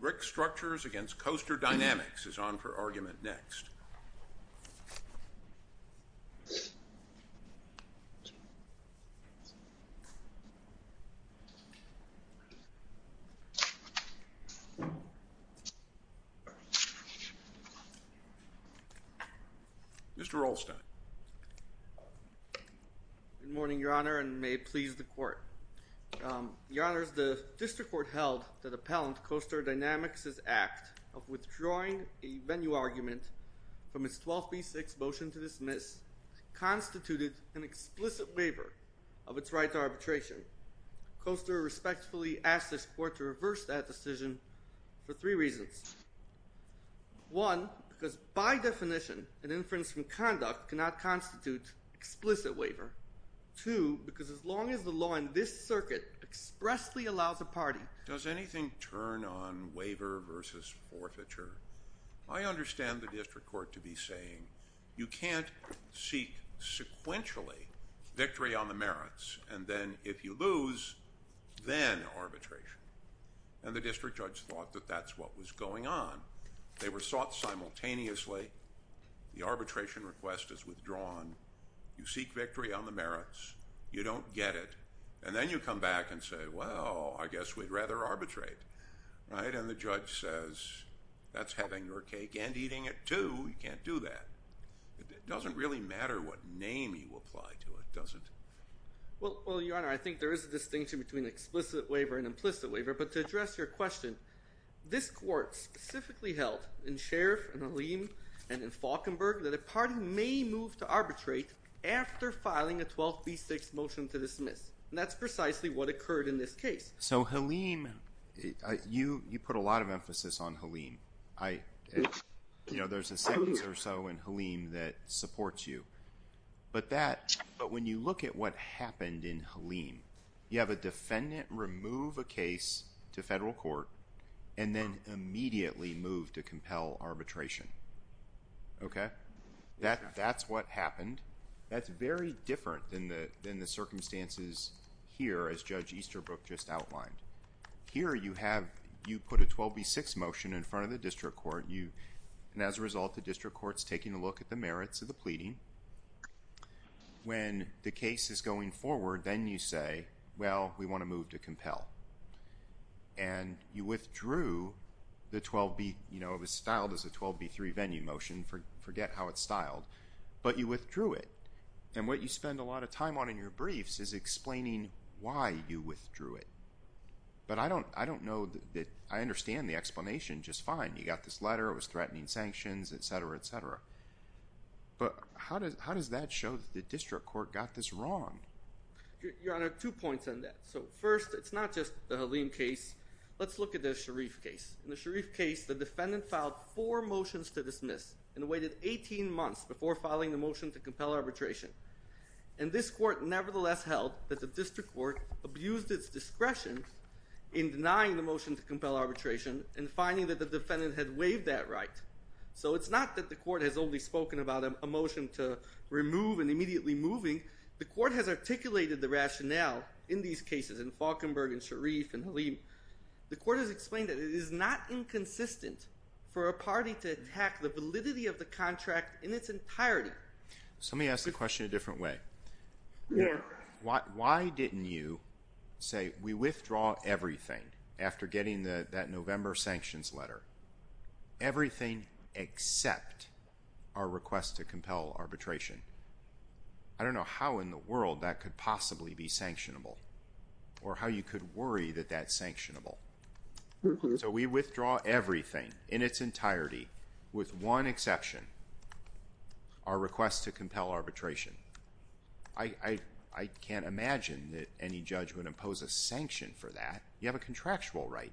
Rickstructures, Inc. v. Coaster Dynamix is on for argument next. Mr. Rolstein. Good morning, Your Honor, and may it please the Court. Your Honors, the District Court held that Appellant Coaster Dynamix's act of withdrawing a venue argument from its 1236 motion to dismiss constituted an explicit waiver of its right to arbitration. Coaster respectfully asked this Court to reverse that decision for three reasons. One, because by definition, an inference from conduct cannot constitute explicit waiver. Two, because as long as the law in this circuit expressly allows a party— Does anything turn on waiver versus forfeiture? I understand the District Court to be saying you can't seek sequentially victory on the merits and then, if you lose, then arbitration. And the District Judge thought that that's what was going on. They were sought simultaneously. The arbitration request is withdrawn. You seek victory on the merits. You don't get it. And then you come back and say, well, I guess we'd rather arbitrate, right? And the Judge says, that's having your cake and eating it, too. You can't do that. It doesn't really matter what name you apply to it, does it? Well, Your Honor, I think there is a distinction between explicit waiver and implicit waiver, but to address your question, this Court specifically held, in Sheriff, in Halim, and in Falkenberg, that a party may move to arbitrate after filing a 12b6 motion to dismiss. And that's precisely what occurred in this case. So, Halim, you put a lot of emphasis on Halim. You know, there's a sentence or so in Halim that supports you. But when you look at what happened in Halim, you have a defendant remove a case to federal court and then immediately move to compel arbitration. Okay? That's what happened. That's very different than the circumstances here, as Judge Easterbrook just outlined. Here, you have, you put a 12b6 motion in front of the District Court. And as a result, the District Court's taking a look at the merits of the pleading. When the case is going forward, then you say, well, we want to move to compel. And you withdrew the 12b, you know, it was styled as a 12b3 venue motion. Forget how it's styled. But you withdrew it. And what you spend a lot of time on in your briefs is explaining why you withdrew it. But I don't know that, I understand the explanation just fine. You got this letter, it was threatening sanctions, etc., etc. But how does that show that the District Court got this wrong? Your Honor, two points on that. So first, it's not just the Halim case. Let's look at the Sharif case. In the Sharif case, the defendant filed four motions to dismiss and waited 18 months before filing the motion to compel arbitration. And this court nevertheless held that the District Court abused its discretion in denying the motion to compel arbitration and finding that the defendant had waived that right. So it's not that the court has only spoken about a motion to remove and immediately moving. The court has articulated the rationale in these cases, in Falkenberg and Sharif and Halim. The court has explained that it is not inconsistent for a party to attack the validity of the contract in its entirety. So let me ask the question a different way. Yes. Why didn't you say, we withdraw everything after getting that November sanctions letter? Everything except our request to compel arbitration. I don't know how in the world that could possibly be sanctionable or how you could worry that that's sanctionable. So we withdraw everything in its entirety with one exception, our request to compel arbitration. I can't imagine that any judge would impose a sanction for that. You have a contractual right.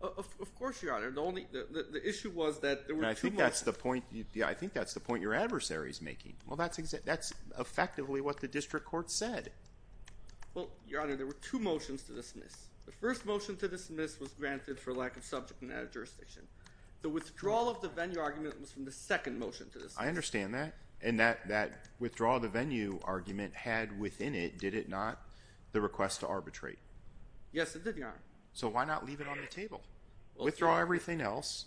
Of course, Your Honor. The issue was that there were two motions. I think that's the point your adversary is making. That's effectively what the district court said. Your Honor, there were two motions to dismiss. The first motion to dismiss was granted for lack of subject matter jurisdiction. The withdrawal of the venue argument was from the second motion to dismiss. I understand that. And that withdrawal of the venue argument had within it, did it not, the request to arbitrate? Yes, it did, Your Honor. So why not leave it on the table? Withdraw everything else.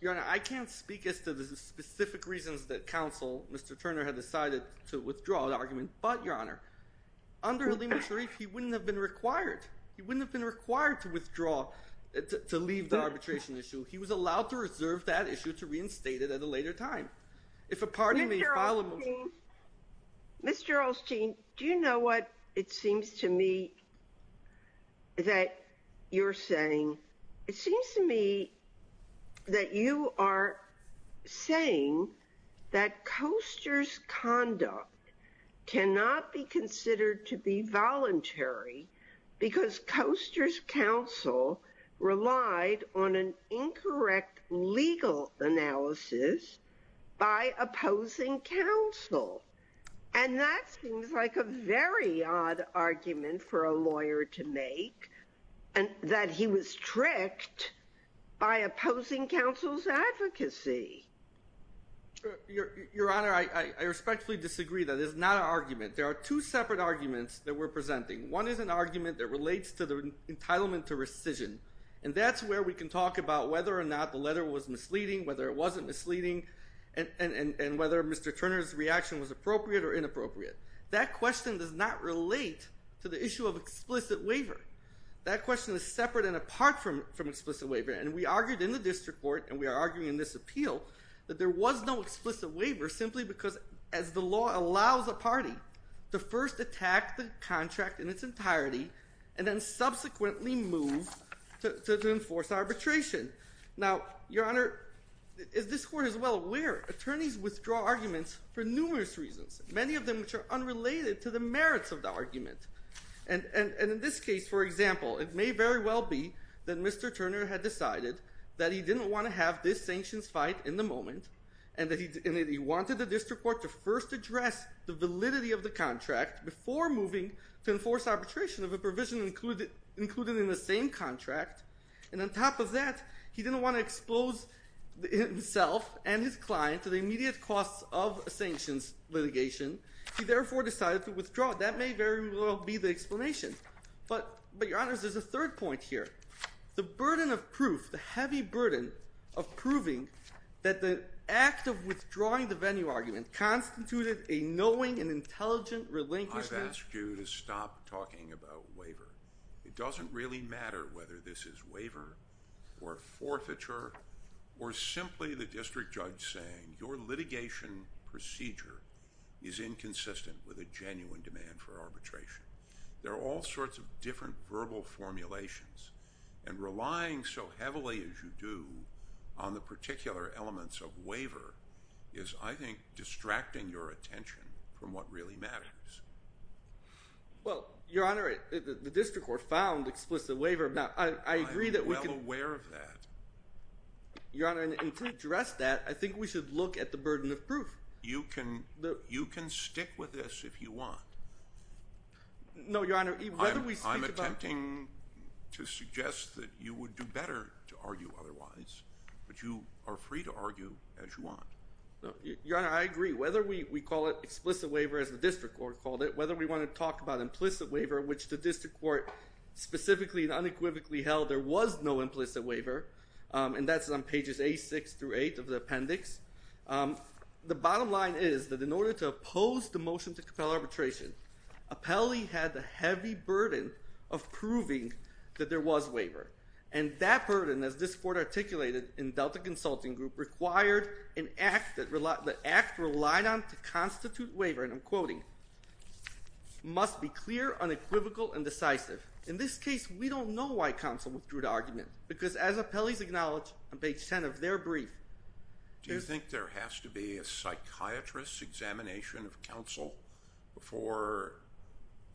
Your Honor, I can't speak as to the specific reasons that counsel, Mr. Turner, had decided to withdraw the argument. But, Your Honor, under Halima Sharif, he wouldn't have been required. He wouldn't have been required to withdraw, to leave the arbitration issue. He was allowed to reserve that issue to reinstate it at a later time. If a party may file a motion... Mr. Olstein, do you know what it seems to me that you're saying? It seems to me that you are saying that Coaster's conduct cannot be considered to be voluntary because Coaster's counsel relied on an incorrect legal analysis by opposing counsel. And that seems like a very odd argument for a lawyer to make. And that he was tricked by opposing counsel's advocacy. Your Honor, I respectfully disagree. That is not an argument. There are two separate arguments that we're presenting. One is an argument that relates to the entitlement to rescission. And that's where we can talk about whether or not the letter was misleading, whether it wasn't misleading, and whether Mr. Turner's reaction was appropriate or inappropriate. That question does not relate to the issue of explicit waiver. That question is separate and apart from explicit waiver. And we argued in the District Court, and we are arguing in this appeal, that there was no explicit waiver simply because, as the law allows a party, to first attack the contract in its entirety and then subsequently move to enforce arbitration. Now, Your Honor, as this Court is well aware, attorneys withdraw arguments for numerous reasons. They're unrelated to the merits of the argument. And in this case, for example, it may very well be that Mr. Turner had decided that he didn't want to have this sanctions fight in the moment and that he wanted the District Court to first address the validity of the contract before moving to enforce arbitration of a provision included in the same contract. And on top of that, he didn't want to expose himself and his client to the immediate costs of a sanctions litigation. He therefore decided to withdraw. That may very well be the explanation. But, Your Honor, there's a third point here. The burden of proof, the heavy burden of proving that the act of withdrawing the venue argument constituted a knowing and intelligent relinquishment... I've asked you to stop talking about waiver. It doesn't really matter whether this is waiver or forfeiture or simply the District Judge saying your litigation procedure is inconsistent with a genuine demand for arbitration. There are all sorts of different verbal formulations and relying so heavily as you do on the particular elements of waiver is, I think, distracting your attention from what really matters. Well, Your Honor, the District Court found explicit waiver. I agree that we can... I'm well aware of that. Your Honor, and to address that, I think we should look and stick with this if you want. No, Your Honor. I'm attempting to suggest that you would do better to argue otherwise, but you are free to argue as you want. Your Honor, I agree. Whether we call it explicit waiver as the District Court called it, whether we want to talk about implicit waiver which the District Court specifically and unequivocally held there was no implicit waiver and that's on pages A6 through 8 of the appendix, the bottom line is that in order to oppose the motion to compel arbitration, Apelli had the heavy burden of proving that there was waiver and that burden, as this Court articulated in Delta Consulting Group, required an act that the act relied on to constitute waiver and I'm quoting, must be clear, unequivocal, and decisive. In this case, we don't know why counsel and I think there has to be a psychiatrist's examination of counsel before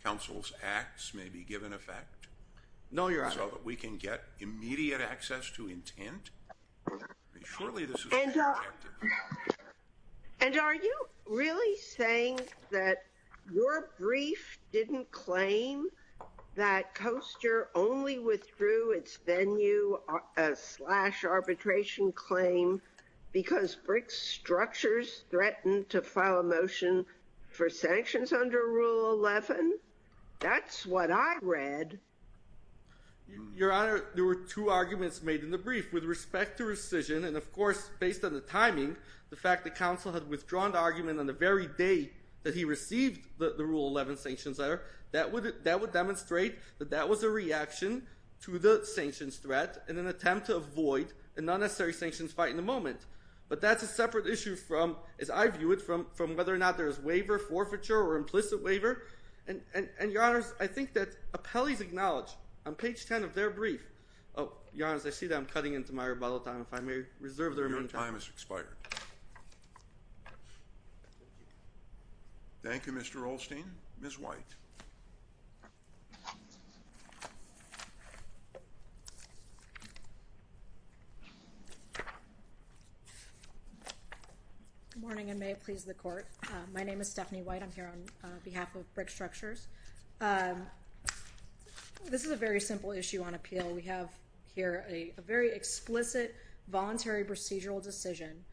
counsel's acts may be given effect. No, Your Honor. So that we can get immediate access to intent. And are you really saying that your brief didn't claim that Coaster only withdrew its venue slash arbitration claim when the public structures threatened to file a motion for sanctions under Rule 11? That's what I read. Your Honor, there were two arguments made in the brief with respect to rescission and of course, based on the timing, the fact that counsel had withdrawn the argument on the very day that he received the Rule 11 sanctions letter, that would demonstrate that that was a reaction to the sanctions threat in an attempt to avoid a non-necessary sanctions fight in the moment. But that's a separate issue from, as I view it, from whether or not there is waiver, forfeiture, or implicit waiver. And Your Honor, I think that appellees acknowledge on page 10 of their brief, Your Honor, as I see that I'm cutting into my rebuttal time, if I may reserve the remaining time. Your time has expired. Thank you, Mr. Rolstein. Ms. White. Good morning, and may it please the Court. My name is Stephanie White. I'm here on behalf of Brick Structures. This is a very simple issue on appeal. We have here a very explicit voluntary procedural decision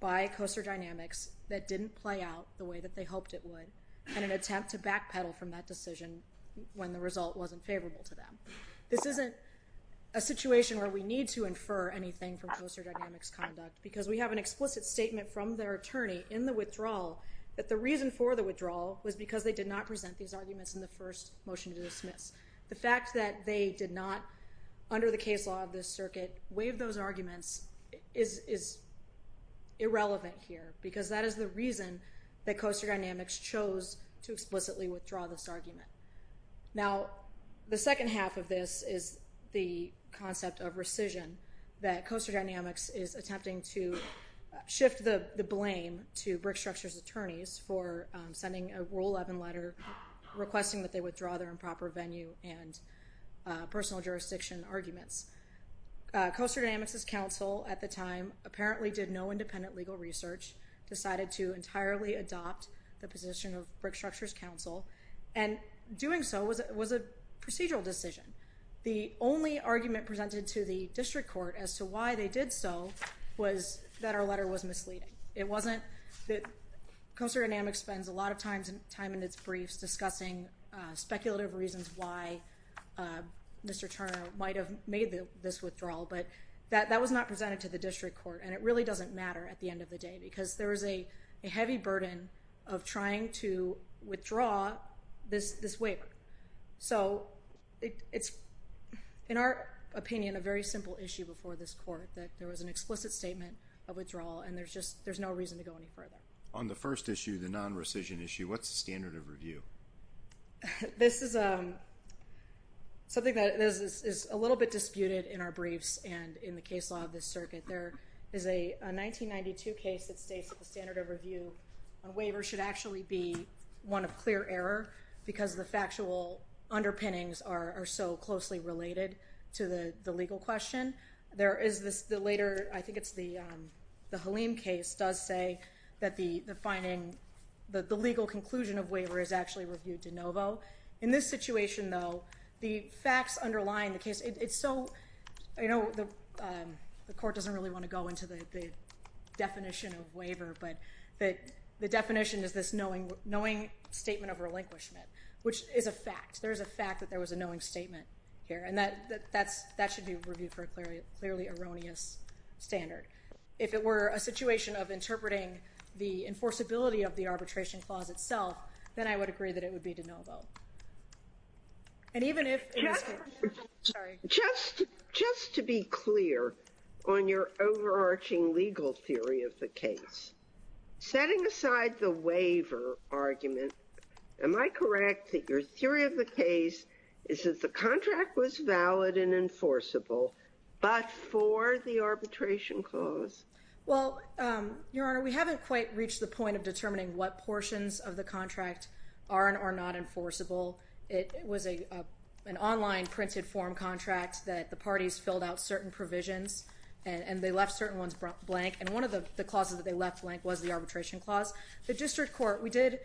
by Coaster Dynamics that didn't play out the way that they hoped it would in an attempt to backpedal from that decision when the result wasn't favorable to them. This isn't a situation where we need to infer anything from Coaster Dynamics' conduct because we have an explicit statement from their attorney in the withdrawal that the reason for the withdrawal was because they did not present these arguments in the first motion to dismiss. The fact that they did not under the case law of this circuit waive those arguments is irrelevant here because that is the reason that Coaster Dynamics chose to explicitly withdraw this argument. Now, the second half of this is the concept of rescission that Coaster Dynamics is attempting to shift the blame to Brick Structures' attorneys for sending a Rule 11 letter requesting that they withdraw their improper venue and personal jurisdiction arguments. Coaster Dynamics' counsel at the time apparently did no independent legal research decided to entirely adopt the position of Brick Structures' counsel and doing so was a procedural decision. The only argument presented to the district court as to why they did so was that our letter was misleading. It wasn't that Coaster Dynamics spends a lot of time in its briefs discussing speculative reasons why Mr. Turner might have made this withdrawal but that was not presented to the district court and it really doesn't matter at the end of the day because there is a heavy burden of trying to withdraw this waiver. So, it's in our opinion a very simple issue before this court that there was an explicit statement of withdrawal and there's just no reason to go any further. On the first issue, the non-rescission issue, what's the standard of review? This is a something that is a little bit disputed in our briefs and in the case law of this circuit. There is a 1992 case that states that the standard of review on a waiver should actually be one of clear error because the factual underpinnings are so closely related to the legal question. There is the later, I think it's the Halim case does say that the finding, the legal conclusion of waiver is actually reviewed de novo. In this situation the facts underline the case it's so you know the court doesn't really want to go into the definition of waiver but the definition is this knowing statement of relinquishment which is a fact. There is a fact that there was a knowing statement here and that for a clearly erroneous standard. If it were a situation of interpreting the enforceability of the arbitration clause itself then I would agree that it would be de novo. And even if just to be clear on your overarching legal theory of the case setting aside the waiver argument am I correct that your theory of the case is that the contract was valid and enforceable but for the arbitration clause? Well Your Honor we haven't quite reached the point of determining what portions of the contract are and are not enforceable. It was an online printed form contract that the parties filled out certain provisions and they left certain ones blank and one of the clauses that they left blank was the arbitration clause. The district court we did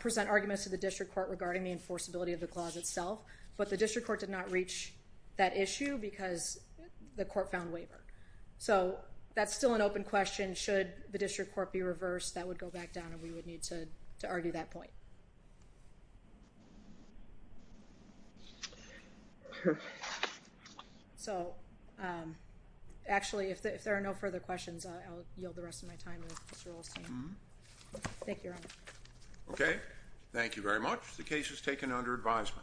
present arguments to the district court regarding the enforceability of the clause itself but the district court did not reach that issue because the court found waiver. So that's still an open question should the district court be reversed that would go back down and we would need to argue that point. So actually if there are no further questions I'll yield the rest of my time with Mr. Rolstein. Thank you Your Honor. Okay thank you very much. The case is taken under revisement.